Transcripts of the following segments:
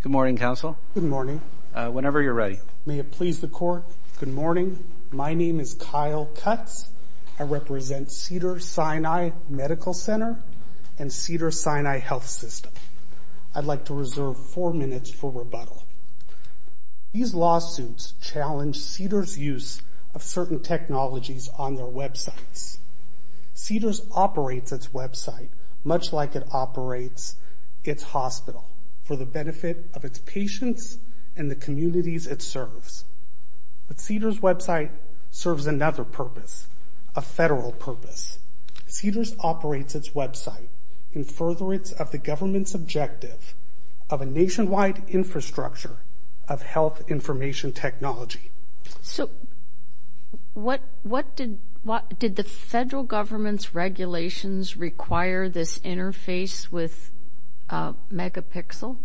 Good morning, counsel. Good morning. Whenever you're ready. May it please the court. Good morning. My name is Kyle Cutts. I represent Cedars-Sinai Medical Center and Cedars-Sinai Health System. I'd like to reserve four minutes for rebuttal. These lawsuits challenge Cedars' use of certain technologies on their websites. Cedars operates its website much like it operates its hospital for the benefit of its patients and the communities it serves. But Cedars' website serves another purpose, a federal purpose. Cedars operates its website in furtherance of the government's objective of a nationwide infrastructure of health information technology. So what did the federal government's regulations require this interface with Megapixel?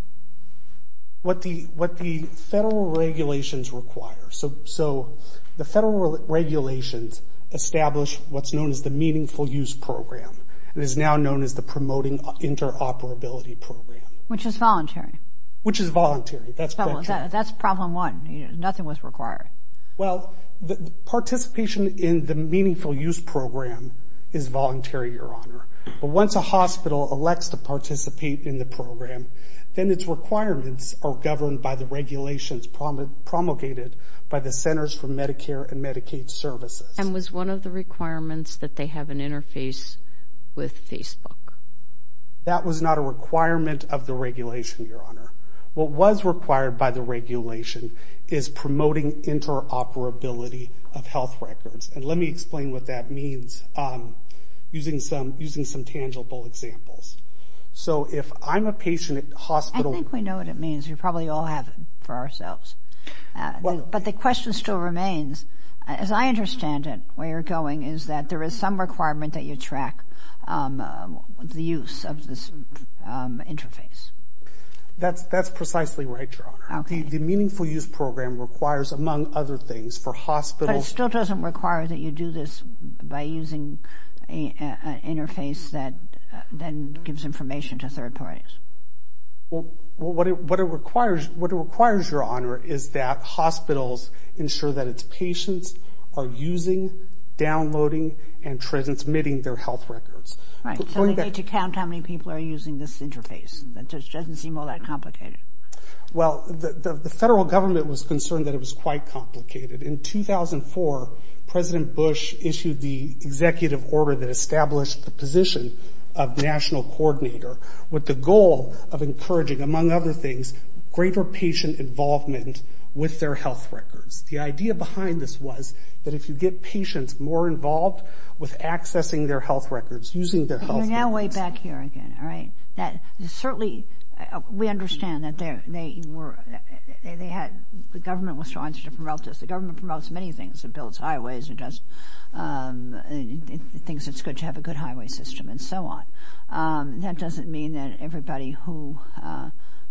What the federal regulations require. So the federal regulations establish what's known as the Meaningful Use Program. It is now known as the Promoting Interoperability Program. Which is voluntary. Which is voluntary. That's problem one. Nothing was required. Well, participation in the Meaningful Use Program is voluntary, Your Honor. But once a hospital elects to participate in the program, then its requirements are governed by the regulations promulgated by the Centers for Medicare and Medicaid Services. And was one of the requirements that they have an interface with Facebook. That was not a requirement of the regulation, Your Honor. What was required by the regulation is promoting interoperability of health records. And let me explain what that means using some tangible examples. So if I'm a patient at hospital I think we know what it means. We probably all have it for ourselves. But the question still some requirement that you track the use of this interface. That's precisely right, Your Honor. The Meaningful Use Program requires, among other things, for hospitals. But it still doesn't require that you do this by using an interface that then gives information to third parties. Well, what it requires, Your Honor, is that hospitals ensure that its patients are using, downloading, and transmitting their health records. Right. So they need to count how many people are using this interface. It doesn't seem all that complicated. Well, the federal government was concerned that it was quite complicated. In 2004, President Bush issued the executive order that established the position of national coordinator with the goal of encouraging, among other things, greater patient involvement with their health records. The idea behind this was that if you get patients more involved with accessing their health records, using their health records. You're now way back here again. All right. That certainly we understand that the government was trying to promote this. The government promotes many things. It builds highways. It does things that's good to have a good highway system, and so on. That doesn't mean that everybody who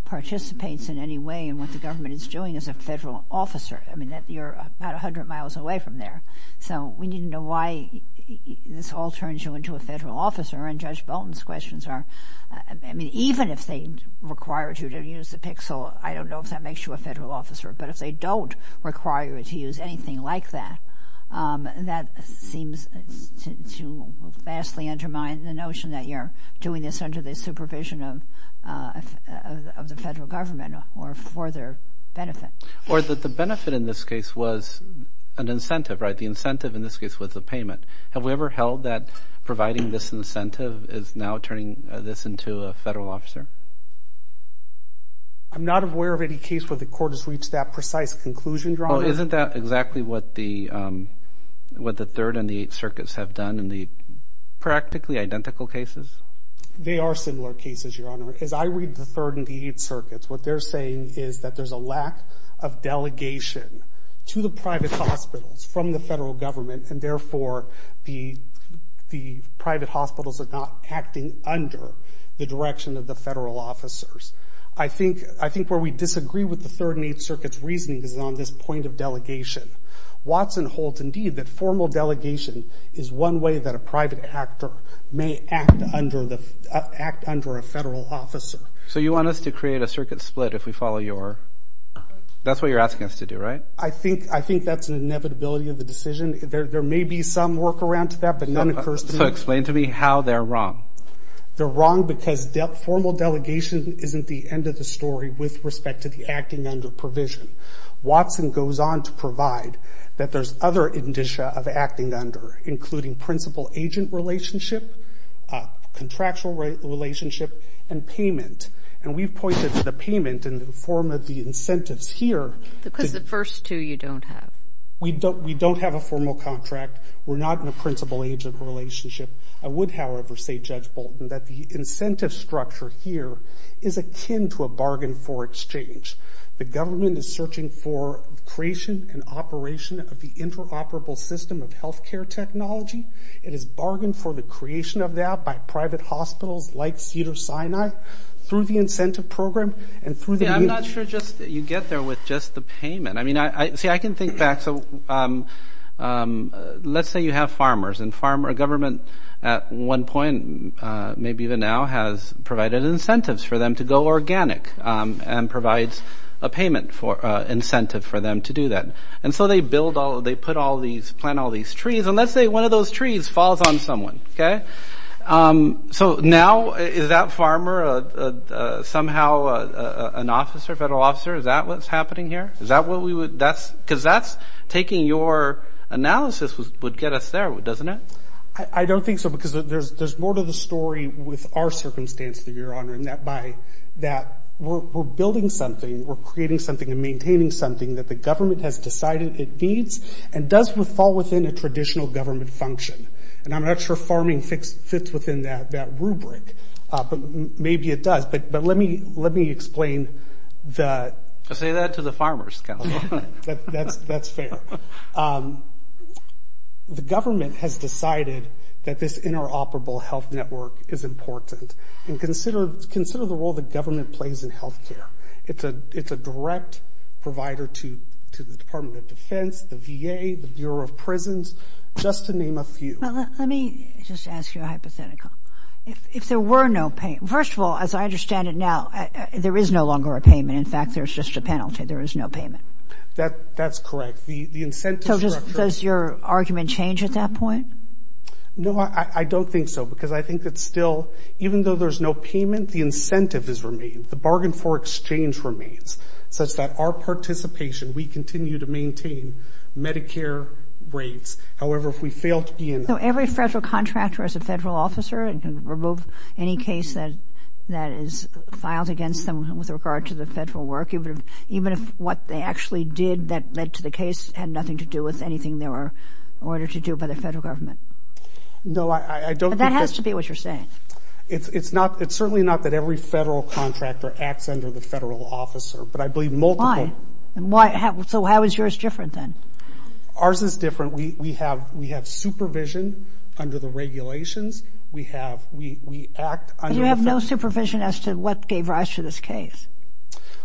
participates in any way in what the government is doing is a federal officer. I mean that you're about 100 miles away from there. So we need to know why this all turns you into a federal officer. And Judge Bolton's questions are, I mean, even if they required you to use the pixel, I don't know if that makes you a federal officer. But if they don't require you to use anything like that, that seems to vastly undermine the notion that you're doing this under the supervision of the federal government or for their benefit. Or that the benefit in this case was an incentive, right? The incentive in this case was a payment. Have we ever held that providing this incentive is now turning this into a federal officer? I'm not aware of any case where the court has reached that precise conclusion. Isn't that exactly what the Third and the Eighth Circuits have done in the identical cases? They are similar cases, Your Honor. As I read the Third and the Eighth Circuits, what they're saying is that there's a lack of delegation to the private hospitals from the federal government. And therefore, the private hospitals are not acting under the direction of the federal officers. I think where we disagree with the Third and Eighth Circuit's reasoning is on this point of delegation. Watson holds indeed that formal delegation is one way that a private actor may act under a federal officer. So you want us to create a circuit split if we follow your... That's what you're asking us to do, right? I think that's an inevitability of the decision. There may be some workaround to that, but none occurs to me. So explain to me how they're wrong. They're wrong because formal delegation isn't the end of the story with respect to the acting under provision. Watson goes on to provide that there's other indicia of acting under, including principal-agent relationship, contractual relationship, and payment. And we've pointed to the payment in the form of the incentives here... Because the first two you don't have. We don't have a formal contract. We're not in a principal-agent relationship. I would, however, say, Judge Bolton, that the incentive structure here is akin to a bargain for exchange. The government is searching for creation and operation of the interoperable system of health care technology. It is bargained for the creation of that by private hospitals like Cedars-Sinai through the incentive program and through the... Yeah, I'm not sure just that you get there with just the payment. I mean, see, I can think back. So let's say you have farmers and farmer government at one point, maybe even now, has provided incentives for them to go organic and provides a payment incentive for them to do that. And so they build all, they put all these, plant all these trees, and let's say one of those trees falls on someone, okay? So now, is that farmer somehow an officer, federal officer? Is that what's happening here? Is that what we would... Because that's taking your analysis would get us there, doesn't it? I don't think so because there's more to the story with our circumstance, your honor, and that by that we're building something, we're creating something, and maintaining something that the government has decided it needs and does with fall within a traditional government function. And I'm not sure farming fits within that rubric, but maybe it does. But let me explain the... Say that to the farmers, Kelly. That's fair. The government has decided that this interoperable health network is important. And consider the role the government plays in health care. It's a direct provider to the Department of Defense, the VA, the Bureau of Prisons, just to name a few. Well, let me just ask you a hypothetical. If there were no pay... First of all, as I understand it now, there is no longer a payment. In fact, there's just a penalty. There is no payment. That's correct. The incentive... So does your argument change at that point? No, I don't think so because I think that still, even though there's no payment, the incentive has remained. The bargain for exchange remains such that our participation, we continue to maintain Medicare rates. However, if we fail to be in... So every federal contractor as a federal officer can remove any case that is filed against them with regard to the federal work, even if what they actually did that led to the case had nothing to do with anything they were to do by the federal government. No, I don't think... But that has to be what you're saying. It's not... It's certainly not that every federal contractor acts under the federal officer, but I believe multiple... Why? So how is yours different then? Ours is different. We have supervision under the regulations. We have... We act under... You have no supervision as to what gave rise to this case?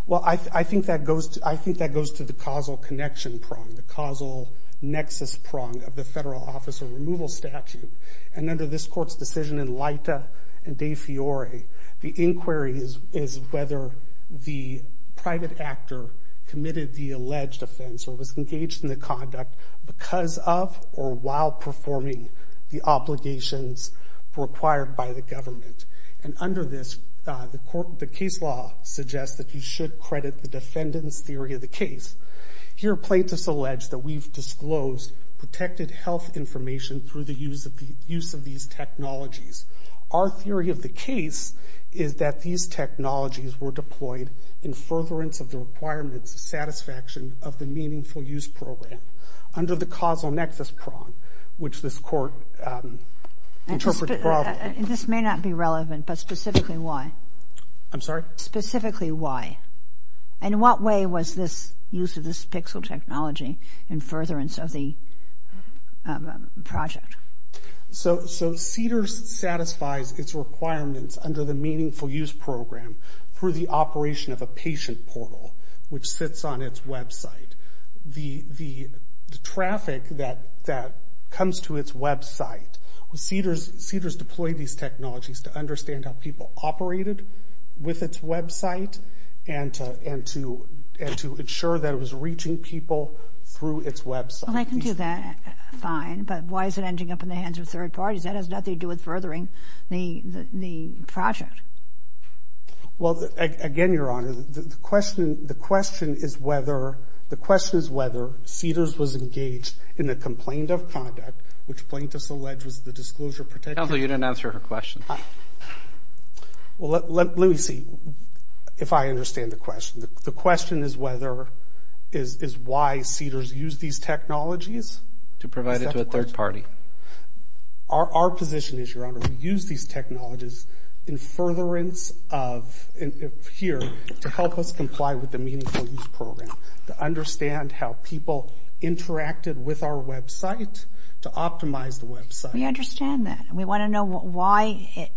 Well, I think that goes to the causal connection prong, the causal nexus prong of the federal officer removal statute. And under this court's decision in Leita and De Fiore, the inquiry is whether the private actor committed the alleged offense or was engaged in the conduct because of or while performing the obligations required by the government. And under this, the case law suggests that you should credit the defendant's theory of case. Here, plaintiffs allege that we've disclosed protected health information through the use of these technologies. Our theory of the case is that these technologies were deployed in furtherance of the requirements of satisfaction of the meaningful use program under the causal nexus prong, which this court interprets... This may not be relevant, but specifically why? I'm sorry? Specifically why? And what way was this use of this pixel technology in furtherance of the project? So CEDARS satisfies its requirements under the meaningful use program through the operation of a patient portal, which sits on its website. The traffic that comes to its website, CEDARS deployed these technologies to understand how people operated with its website and to ensure that it was reaching people through its website. I can do that fine, but why is it ending up in the hands of third parties? That has nothing to do with furthering the project. Well, again, Your Honor, the question is whether CEDARS was engaged in the complaint of conduct, which plaintiffs allege was the disclosure of protected... Counselor, you didn't answer her question. Well, let me see if I understand the question. The question is why CEDARS used these technologies? To provide it to a third party. Our position is, Your Honor, we use these technologies in furtherance of... Here, to help us comply with the meaningful use program, to understand how people interacted with our website, to optimize the website. We understand that. We want to know why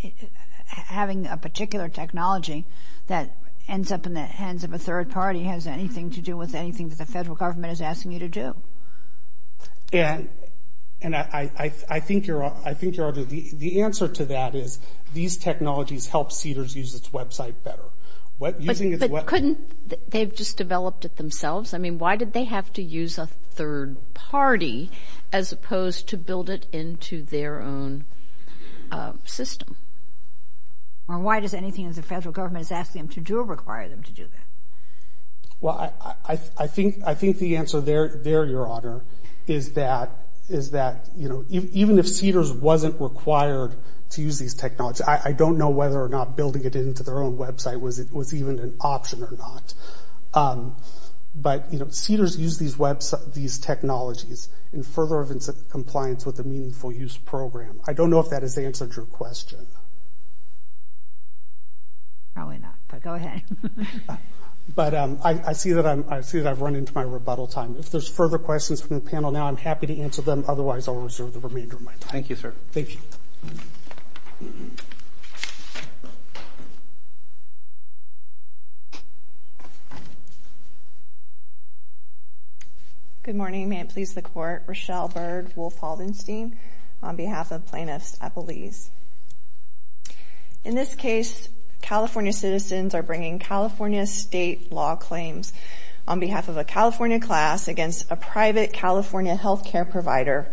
having a particular technology that ends up in the hands of a third party has anything to do with anything that the federal government is asking you to do. And I think, Your Honor, the answer to that is these technologies help CEDARS use its website better. But couldn't they have just developed it themselves? I mean, why did they have to use a third party as opposed to build it into their own system? Or why does anything that the federal is that... Even if CEDARS wasn't required to use these technologies, I don't know whether or not building it into their own website was even an option or not. But CEDARS used these technologies in furtherance of compliance with the meaningful use program. I don't know if that has answered your question. Probably not, but go ahead. But I see that I've run into my rebuttal time. If there's further questions from the panel now, I'm happy to answer them. Otherwise, I'll reserve the remainder of my time. Thank you, sir. Thank you. Good morning. May it please the Court. Rochelle Bird, Wolf Haldenstein on behalf of plaintiffs at Belize. In this case, California citizens are bringing California state law claims on behalf of a California class against a private California healthcare provider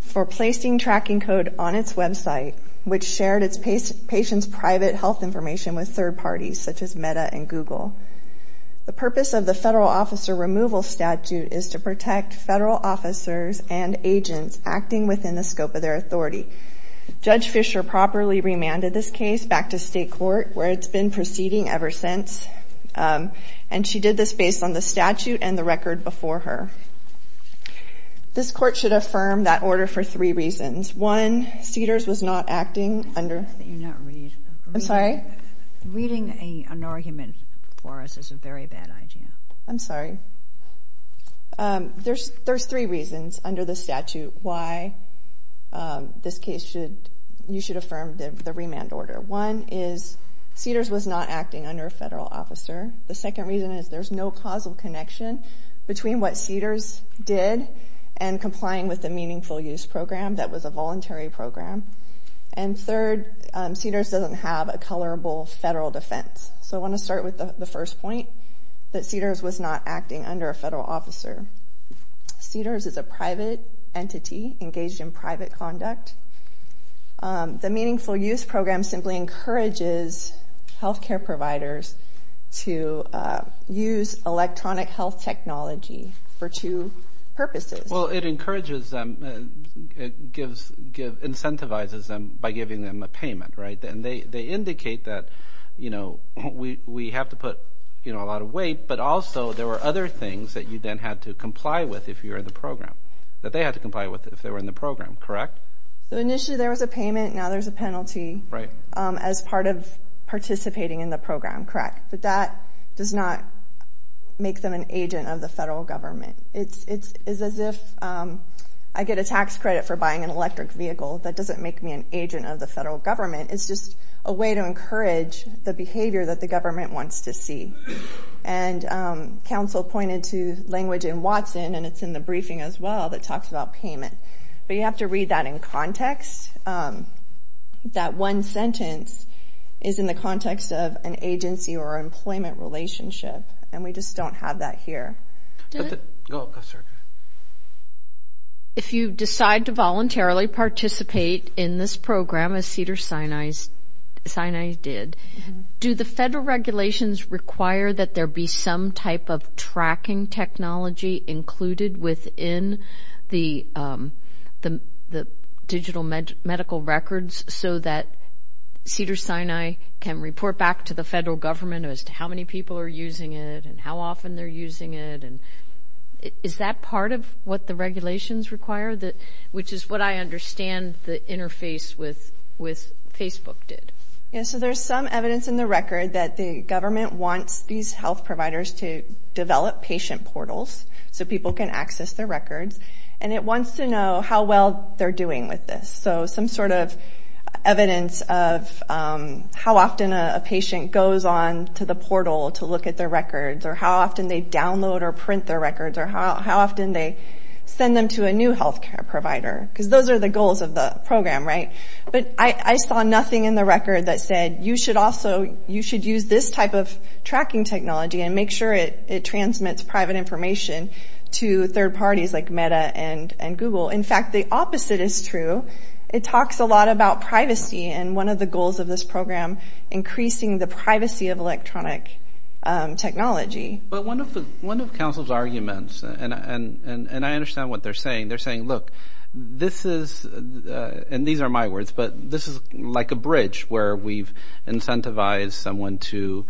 for placing tracking code on its website, which shared its patient's private health information with third parties, such as Meta and Google. The purpose of the federal officer removal statute is to protect federal officers and agents acting within the scope of their authority. Judge Fisher properly remanded this case back to state court, where it's been proceeding ever since. And she did this based on the statute and the record before her. This court should affirm that order for three reasons. One, Cedars was not acting under... I'm sorry? Reading an argument for us is a very bad idea. I'm sorry. There's three reasons under the statute why you should affirm the remand order. One is Cedars was not acting under a federal officer. The second reason is there's no causal connection between what Cedars did and complying with the meaningful use program that was a voluntary program. And third, Cedars doesn't have a colorable federal defense. So I want to start with the first point, that Cedars was not acting under a federal officer. Cedars is a private entity engaged in private conduct. The meaningful use program simply encourages healthcare providers to use electronic health technology for two purposes. Well, it encourages them, incentivizes them by giving them a payment, right? And they indicate that we have to put a lot of weight, but also there were other things that you then had to comply with if you're in the program, that they had to comply with if they were in the program, correct? So initially there was a payment, now there's a penalty as part of participating in the program, correct? But that does not make them an agent of the federal government. It's as if I get a tax credit for buying an electric vehicle, that doesn't make me an agent of the federal government. It's just a way to encourage the behavior that the government wants to see. And counsel pointed to language in Watson, and it's in the briefing as well, that talks about payment. But you have to read that in context. That one sentence is in the context of an agency or employment relationship, and we just don't have that here. If you decide to voluntarily participate in this program as Cedars-Sinai did, do the federal regulations require that there be some type of tracking technology included within the digital medical records so that Cedars-Sinai can report back to the federal government as to how many people are using it, and how often they're using it, and is that part of what the regulations require? Which is what I understand the interface with that the government wants these health providers to develop patient portals so people can access their records, and it wants to know how well they're doing with this. So some sort of evidence of how often a patient goes on to the portal to look at their records, or how often they download or print their records, or how often they send them to a new health care provider, because those are the goals of the program, right? But I saw nothing in the record that said, you should use this type of tracking technology and make sure it transmits private information to third parties like Meta and Google. In fact, the opposite is true. It talks a lot about privacy, and one of the goals of this program, increasing the privacy of electronic technology. But one of Council's arguments, and I understand what they're saying, they're saying, look, this is, and these are my words, but this is like a bridge where we've incentivized someone to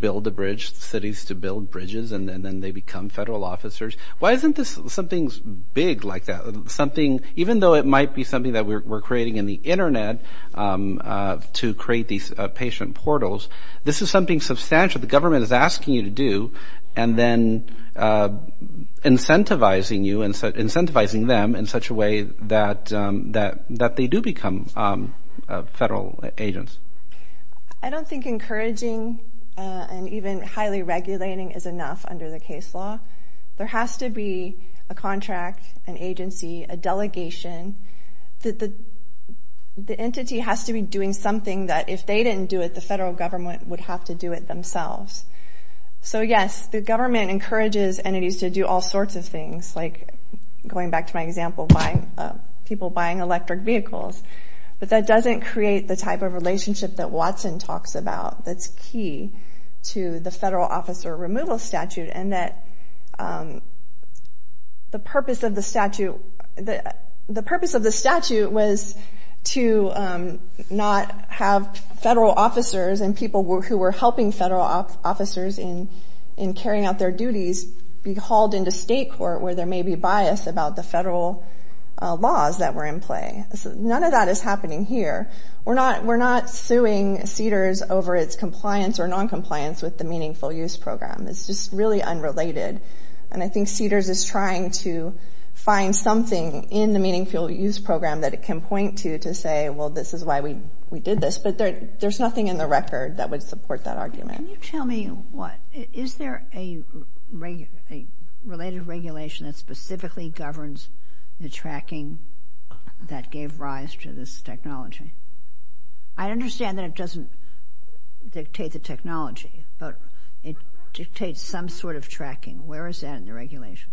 build a bridge, cities to build bridges, and then they become federal officers. Why isn't this something big like that? Something, even though it might be something that we're creating in the internet to create these patient portals, this is something substantial the government is asking you to do, and then incentivizing you, and incentivizing them in such a way that they do become federal agents. I don't think encouraging and even highly regulating is enough under the case law. There has to be a contract, an agency, a delegation. The entity has to be doing something that if they didn't do it, the federal government would have to do it themselves. So yes, the government encourages entities to do all sorts of things, like going back to my example, people buying electric vehicles, but that doesn't create the type of relationship that Watson talks about that's key to the federal officer removal statute, and that the purpose of the statute, the purpose of the statute was to not have federal officers and people who were helping federal officers in carrying out their duties be hauled into state court where there may be bias about the federal laws that were in play. None of that is happening here. We're not suing CEDARS over its compliance or non-compliance with the Meaningful Use Program. It's just really unrelated, and I think CEDARS is trying to find something in the Meaningful Use Program that it can point to to say, well, this is why we did this, but there's nothing in the record that would support that argument. Can you tell me what, is there a related regulation that specifically governs the tracking that gave rise to this technology? I understand that it doesn't dictate the technology, but it dictates some sort of tracking. Where is that in the regulation?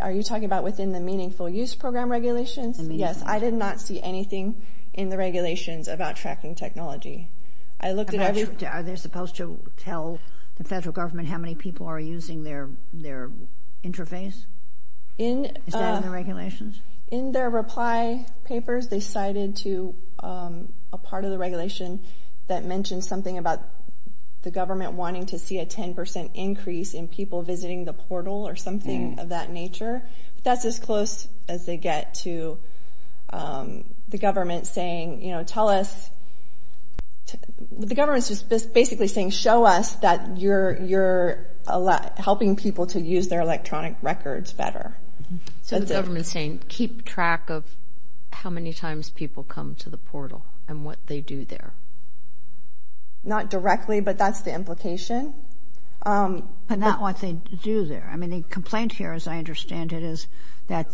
Are you talking about within the Meaningful Use Program regulations? Yes, I did not see anything in the regulations about tracking technology. I looked at everything. Are they supposed to tell the federal government how many people are using their interface? Is that in the regulations? In their reply papers, they cited a part of the regulation that mentioned something about the government wanting to see a 10% increase in people visiting the portal or something of that nature. That's as close as they get to the government saying, you know, tell us, the government's just basically saying, show us that you're helping people to use their interface. Keep track of how many times people come to the portal and what they do there. Not directly, but that's the implication. But not what they do there. I mean, the complaint here, as I understand it, is that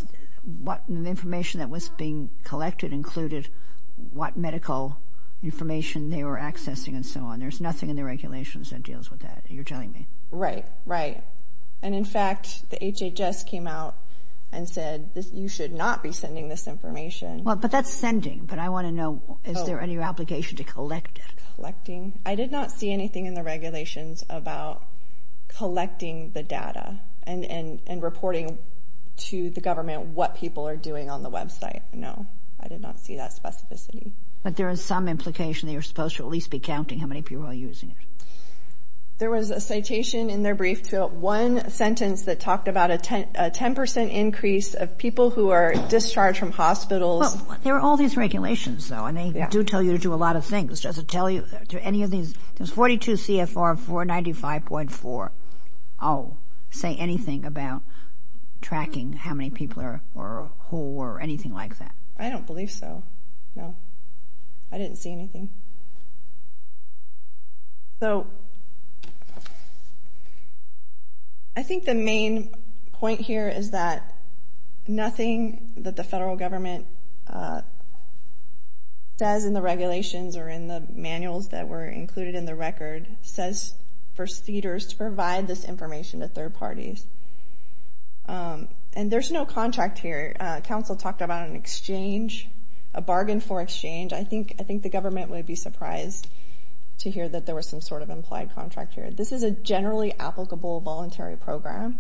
the information that was being collected included what medical information they were accessing and so on. There's nothing in the regulations that deals with that, you're telling me. Right, right. And in fact, the HHS came out and said, you should not be sending this information. Well, but that's sending, but I want to know, is there any obligation to collect it? Collecting? I did not see anything in the regulations about collecting the data and reporting to the government what people are doing on the website. No, I did not see that specificity. But there is some implication that you're supposed to at least be counting how many people are there. There was a citation in their brief to one sentence that talked about a 10% increase of people who are discharged from hospitals. There are all these regulations, though, and they do tell you to do a lot of things. Does it tell you, do any of these, there's 42 CFR, 495.4, say anything about tracking how many people are, or who, or anything like that? I don't believe so, no. I didn't see anything. So I think the main point here is that nothing that the federal government says in the regulations or in the manuals that were included in the record says for CEDARS to provide this information to third parties. And there's no contract here. Council talked about an exchange, a bargain for exchange. I think the government would be surprised to hear that there was some sort of implied contract here. This is a generally applicable voluntary program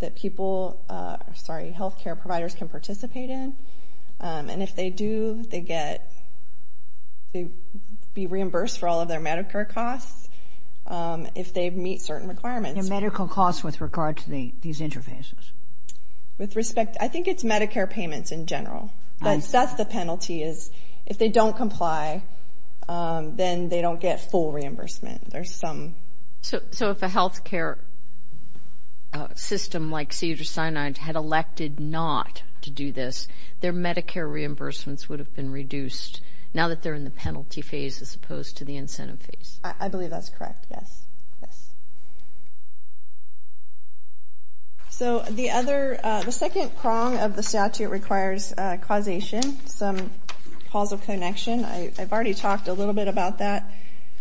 that people, sorry, healthcare providers can participate in. And if they do, they get, they be reimbursed for all of their Medicare costs if they meet certain requirements. And medical costs with regard to these interfaces? With respect, I think it's Medicare payments in general. That's the penalty is if they don't comply, then they don't get full reimbursement. There's some. So if a healthcare system like CEDARS-Sinai had elected not to do this, their Medicare reimbursements would have been reduced now that they're in the penalty phase as opposed to the incentive phase. I believe that's correct. Yes. Yes. So the other, the second prong of the statute requires causation, some causal connection. I've already talked a little bit about that.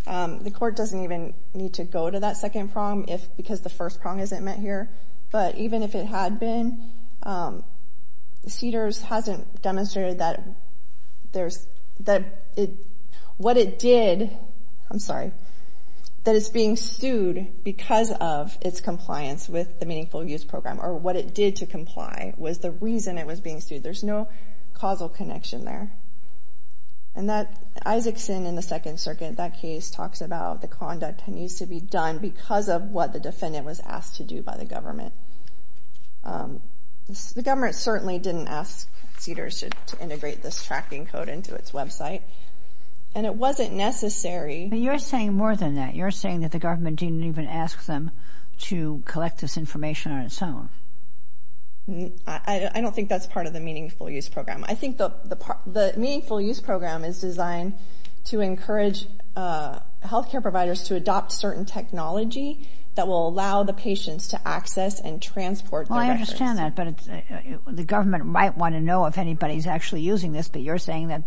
The court doesn't even need to go to that second prong if, because the first prong isn't met here. But even if it had been, CEDARS hasn't demonstrated that there's, that it, what it did, I'm sorry, that it's being sued because of its compliance with the Meaningful Use Program or what it did to comply was the reason it was being sued. There's no causal connection there. And that Isaacson in the Second Circuit, that case talks about the conduct that needs to be done because of what the defendant was asked to do by the government. This, the government certainly didn't ask CEDARS to integrate this tracking code into its website and it wasn't necessary. But you're saying more than that. You're saying that the government didn't even ask them to collect this information on its own. I don't think that's part of the Meaningful Use Program. I think the Meaningful Use Program is designed to encourage healthcare providers to adopt certain technology that will allow the patients to access and transport their records. Well, I understand that, but the government might want to know if anybody's actually using this, but you're saying that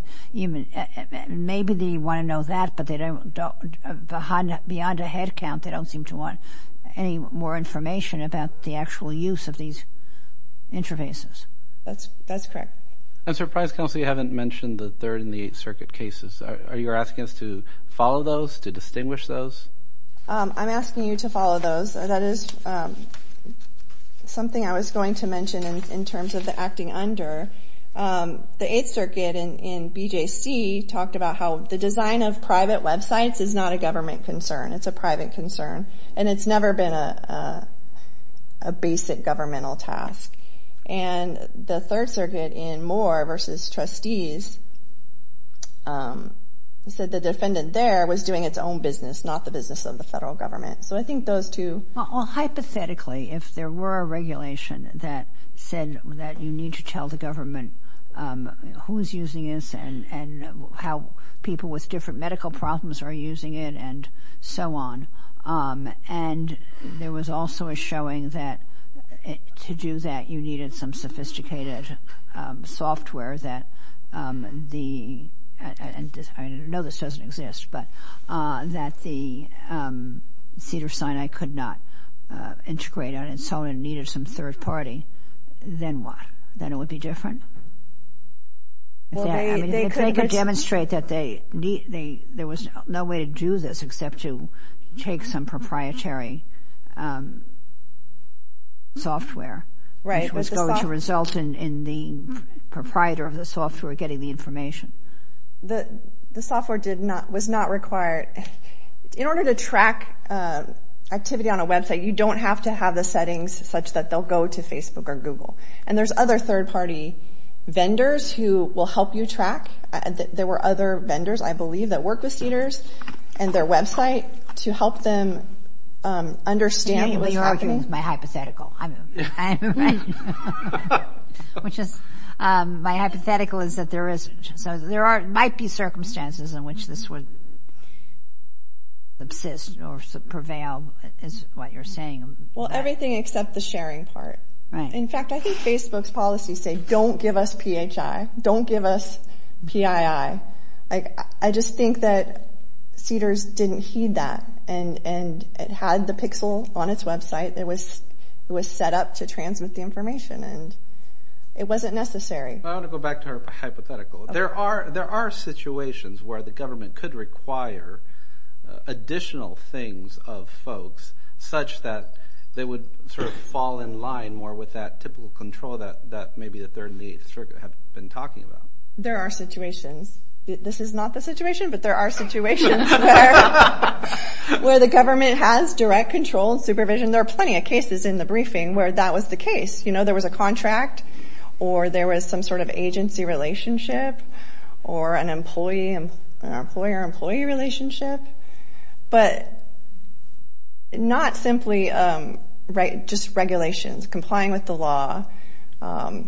maybe they want to know that, but they don't, beyond a head count, they don't seem to want any more information about the actual use of these interfaces. That's correct. And, Sir, Price Counsel, you haven't mentioned the Third and Distinguished Circuit. I'm asking you to follow those. That is something I was going to mention in terms of the acting under. The Eighth Circuit in BJC talked about how the design of private websites is not a government concern. It's a private concern. And it's never been a basic governmental task. And the Third Circuit in Moore v. Trustees said the defendant there was doing its own business, not the business of the federal government. So I think those two... Well, hypothetically, if there were a regulation that said that you need to tell the government who's using this and how people with different medical problems are using it and so on, and there was also a showing that to do that you needed some the... And I know this doesn't exist, but that the Cedars-Sinai could not integrate on and so on and needed some third party, then what? Then it would be different? I mean, if they could demonstrate that there was no way to do this except to take some proprietary software, which was going to result in the software getting the information. The software was not required. In order to track activity on a website, you don't have to have the settings such that they'll go to Facebook or Google. And there's other third party vendors who will help you track. There were other vendors, I believe, that work with Cedars and their website to help them understand what's happening. My hypothetical. My hypothetical is that there might be circumstances in which this would absist or prevail, is what you're saying. Well, everything except the sharing part. In fact, I think Facebook's policy say, don't give us PHI, don't give us PII. I just think that Cedars didn't heed that, and it had the pixel on its website. It was set up to transmit the information, and it wasn't necessary. I want to go back to her hypothetical. There are situations where the government could require additional things of folks such that they would sort of fall in line more with that typical control that maybe the Third and the Eighth Circuit have been talking about. There are situations. This is not the situation, but there are situations where the government has direct control and supervision. There are plenty of cases in the briefing where that was the case. There was a contract, or there was some sort of agency relationship, or an employer-employee relationship. But not simply just regulations, complying with the law, the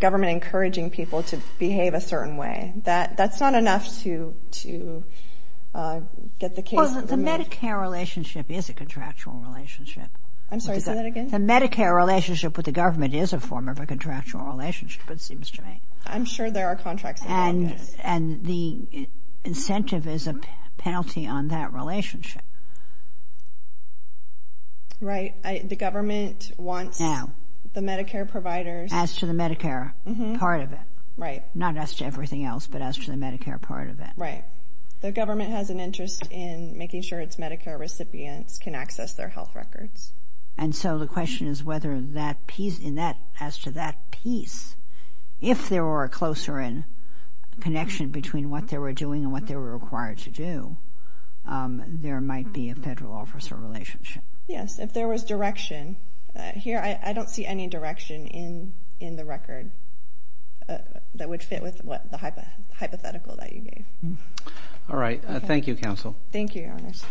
government encouraging people to behave a certain way. That's not enough to get the case. The Medicare relationship is a contractual relationship. I'm sorry, say that again? The Medicare relationship with the government is a form of a contractual relationship, it seems to me. I'm sure there are contracts. And the incentive is a penalty on that relationship. Right. The government wants the Medicare providers. As to the Medicare part of it. Right. Not as to everything else, but as to the Medicare part of it. Right. The government has an interest in making sure its Medicare recipients can access their health records. And so the question is whether, as to that piece, if there were a closer connection between what they were doing and what they were required to do, there might be a federal officer relationship. Yes. If there was direction. Here, I don't see any direction in the record that would fit with the hypothetical that you gave. All right. Thank you, Counsel. Thank you, Your Honors.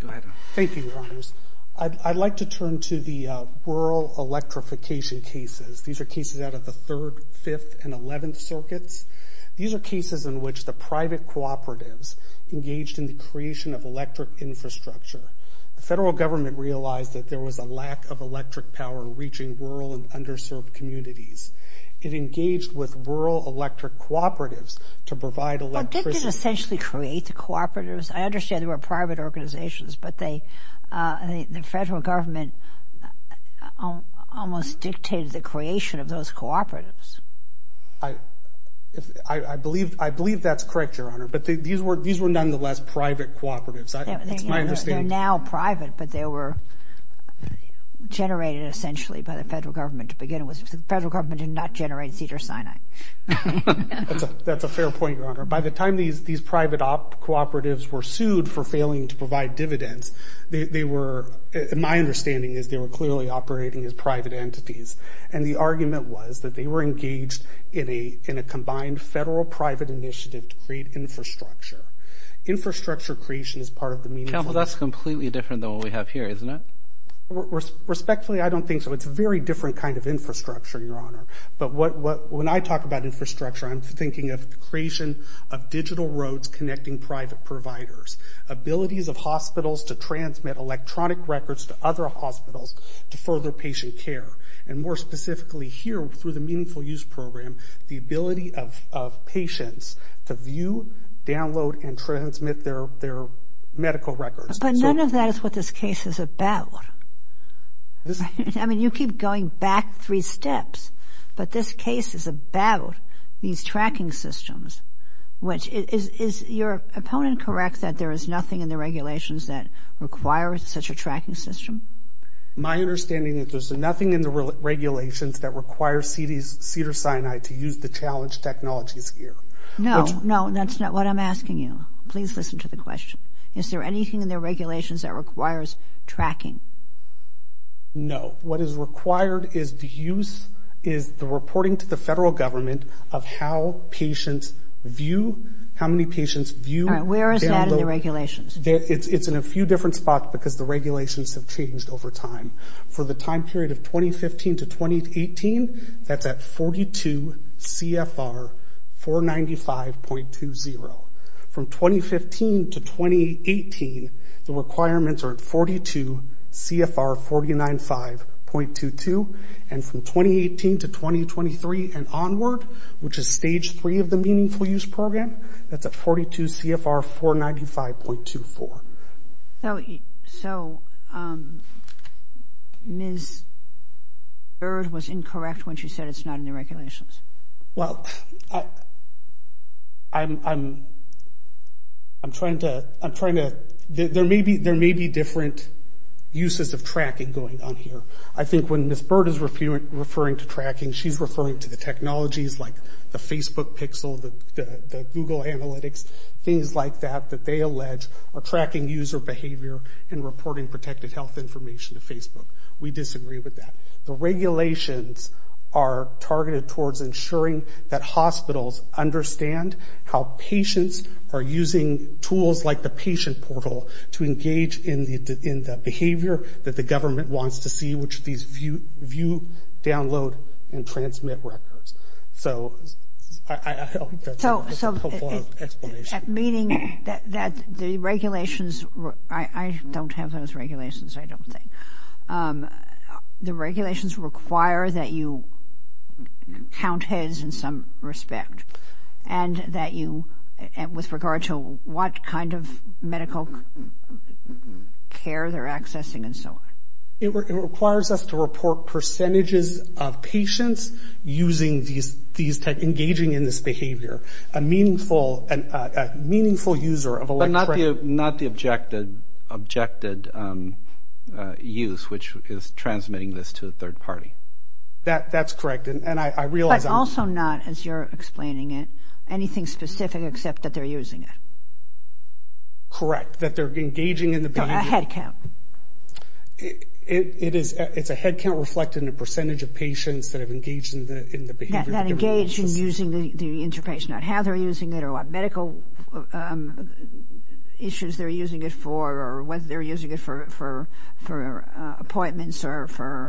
Go ahead. Thank you, Your Honors. I'd like to turn to the rural electrification cases. These are cases out of the 3rd, 5th, and 11th circuits. These are cases in which the private cooperatives engaged in the creation of electric infrastructure. The federal government realized that there was a lack of electric power reaching rural and underserved communities. It engaged with rural electric cooperatives to provide electricity. Well, they didn't essentially create the cooperatives. I understand they were private organizations, but the federal government almost dictated the creation of those cooperatives. I believe that's correct, Your Honor. But these were nonetheless private cooperatives. They're now private, but they were generated essentially by the federal government to begin with. The federal government did not generate Cedars-Sinai. That's a fair point, Your Honor. By the time these private cooperatives were sued for failing to provide dividends, my understanding is they were clearly operating as private entities. The argument was that they were engaged in a combined federal-private initiative to create infrastructure. Infrastructure creation is part of the meaningful... Counsel, that's completely different than what we have here, isn't it? Respectfully, I don't think so. It's a very different kind of infrastructure, Your Honor. But when I talk about infrastructure, I'm thinking of the creation of digital roads connecting private providers, abilities of hospitals to transmit electronic records to other hospitals to further patient care, and more specifically here through the Meaningful Use Program, the ability of patients to view, download, and transmit their medical records. But none of that is what this case is about. I mean, you keep going back three steps, but this case is about these tracking systems, which is your opponent correct that there is nothing in the regulations that requires such a tracking system? My understanding is there's nothing in the regulations that requires Cedars-Sinai to use the challenge technologies here. No, no, that's not what I'm asking you. Please listen to the question. Is there anything in the regulations that requires tracking? No. What is required is the use, is the reporting to the federal government of how patients view, how many patients view... All right, where is that in the regulations? It's in a few different spots because the regulations have changed over time. For the time period of 2015 to 2018, that's at 42 CFR 495.20. From 2015 to 2018, the requirements are at 42 CFR 495.22. And from 2018 to 2023 and onward, which is stage three of the Meaningful Use Program, that's at 42 CFR 495.24. So Ms. Bird was incorrect when she said it's not in the regulations. Well, I'm trying to... There may be different uses of tracking going on here. I think when Ms. Bird is referring to tracking, she's referring to the technologies like the Facebook Pixel, the Google Analytics, things like that, that they allege are tracking user behavior and reporting protected health information to Facebook. We disagree with that. The regulations are targeted towards ensuring that hospitals understand how patients are using tools like the patient portal to engage in the behavior that the government wants to see, which these view, download, and transmit records. So I think that's a helpful explanation. Meaning that the regulations... I don't have those regulations, I don't think. The regulations require that you count heads in some respect and that you, with regard to what kind of medical care they're accessing and so on. It requires us to report percentages of patients using these tech, engaging in this behavior, a meaningful user of electronic... But not the objected use, which is transmitting this to a third party. That's correct. And I realize... But also not, as you're explaining it, anything specific except that they're using it. Correct. That they're engaging in the behavior... A head count. It's a head count reflected in the percentage of patients that have engaged in the behavior... That engage in using the interface, not how they're using it or what medical issues they're using it for or whether they're using it for appointments or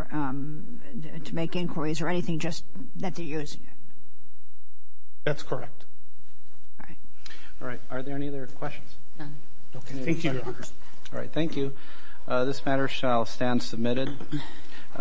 to make inquiries or anything just that they use. That's correct. All right. All right. Are there any other questions? None. Okay. Thank you, Your Honor. All right. Thank you. This matter shall stand submitted.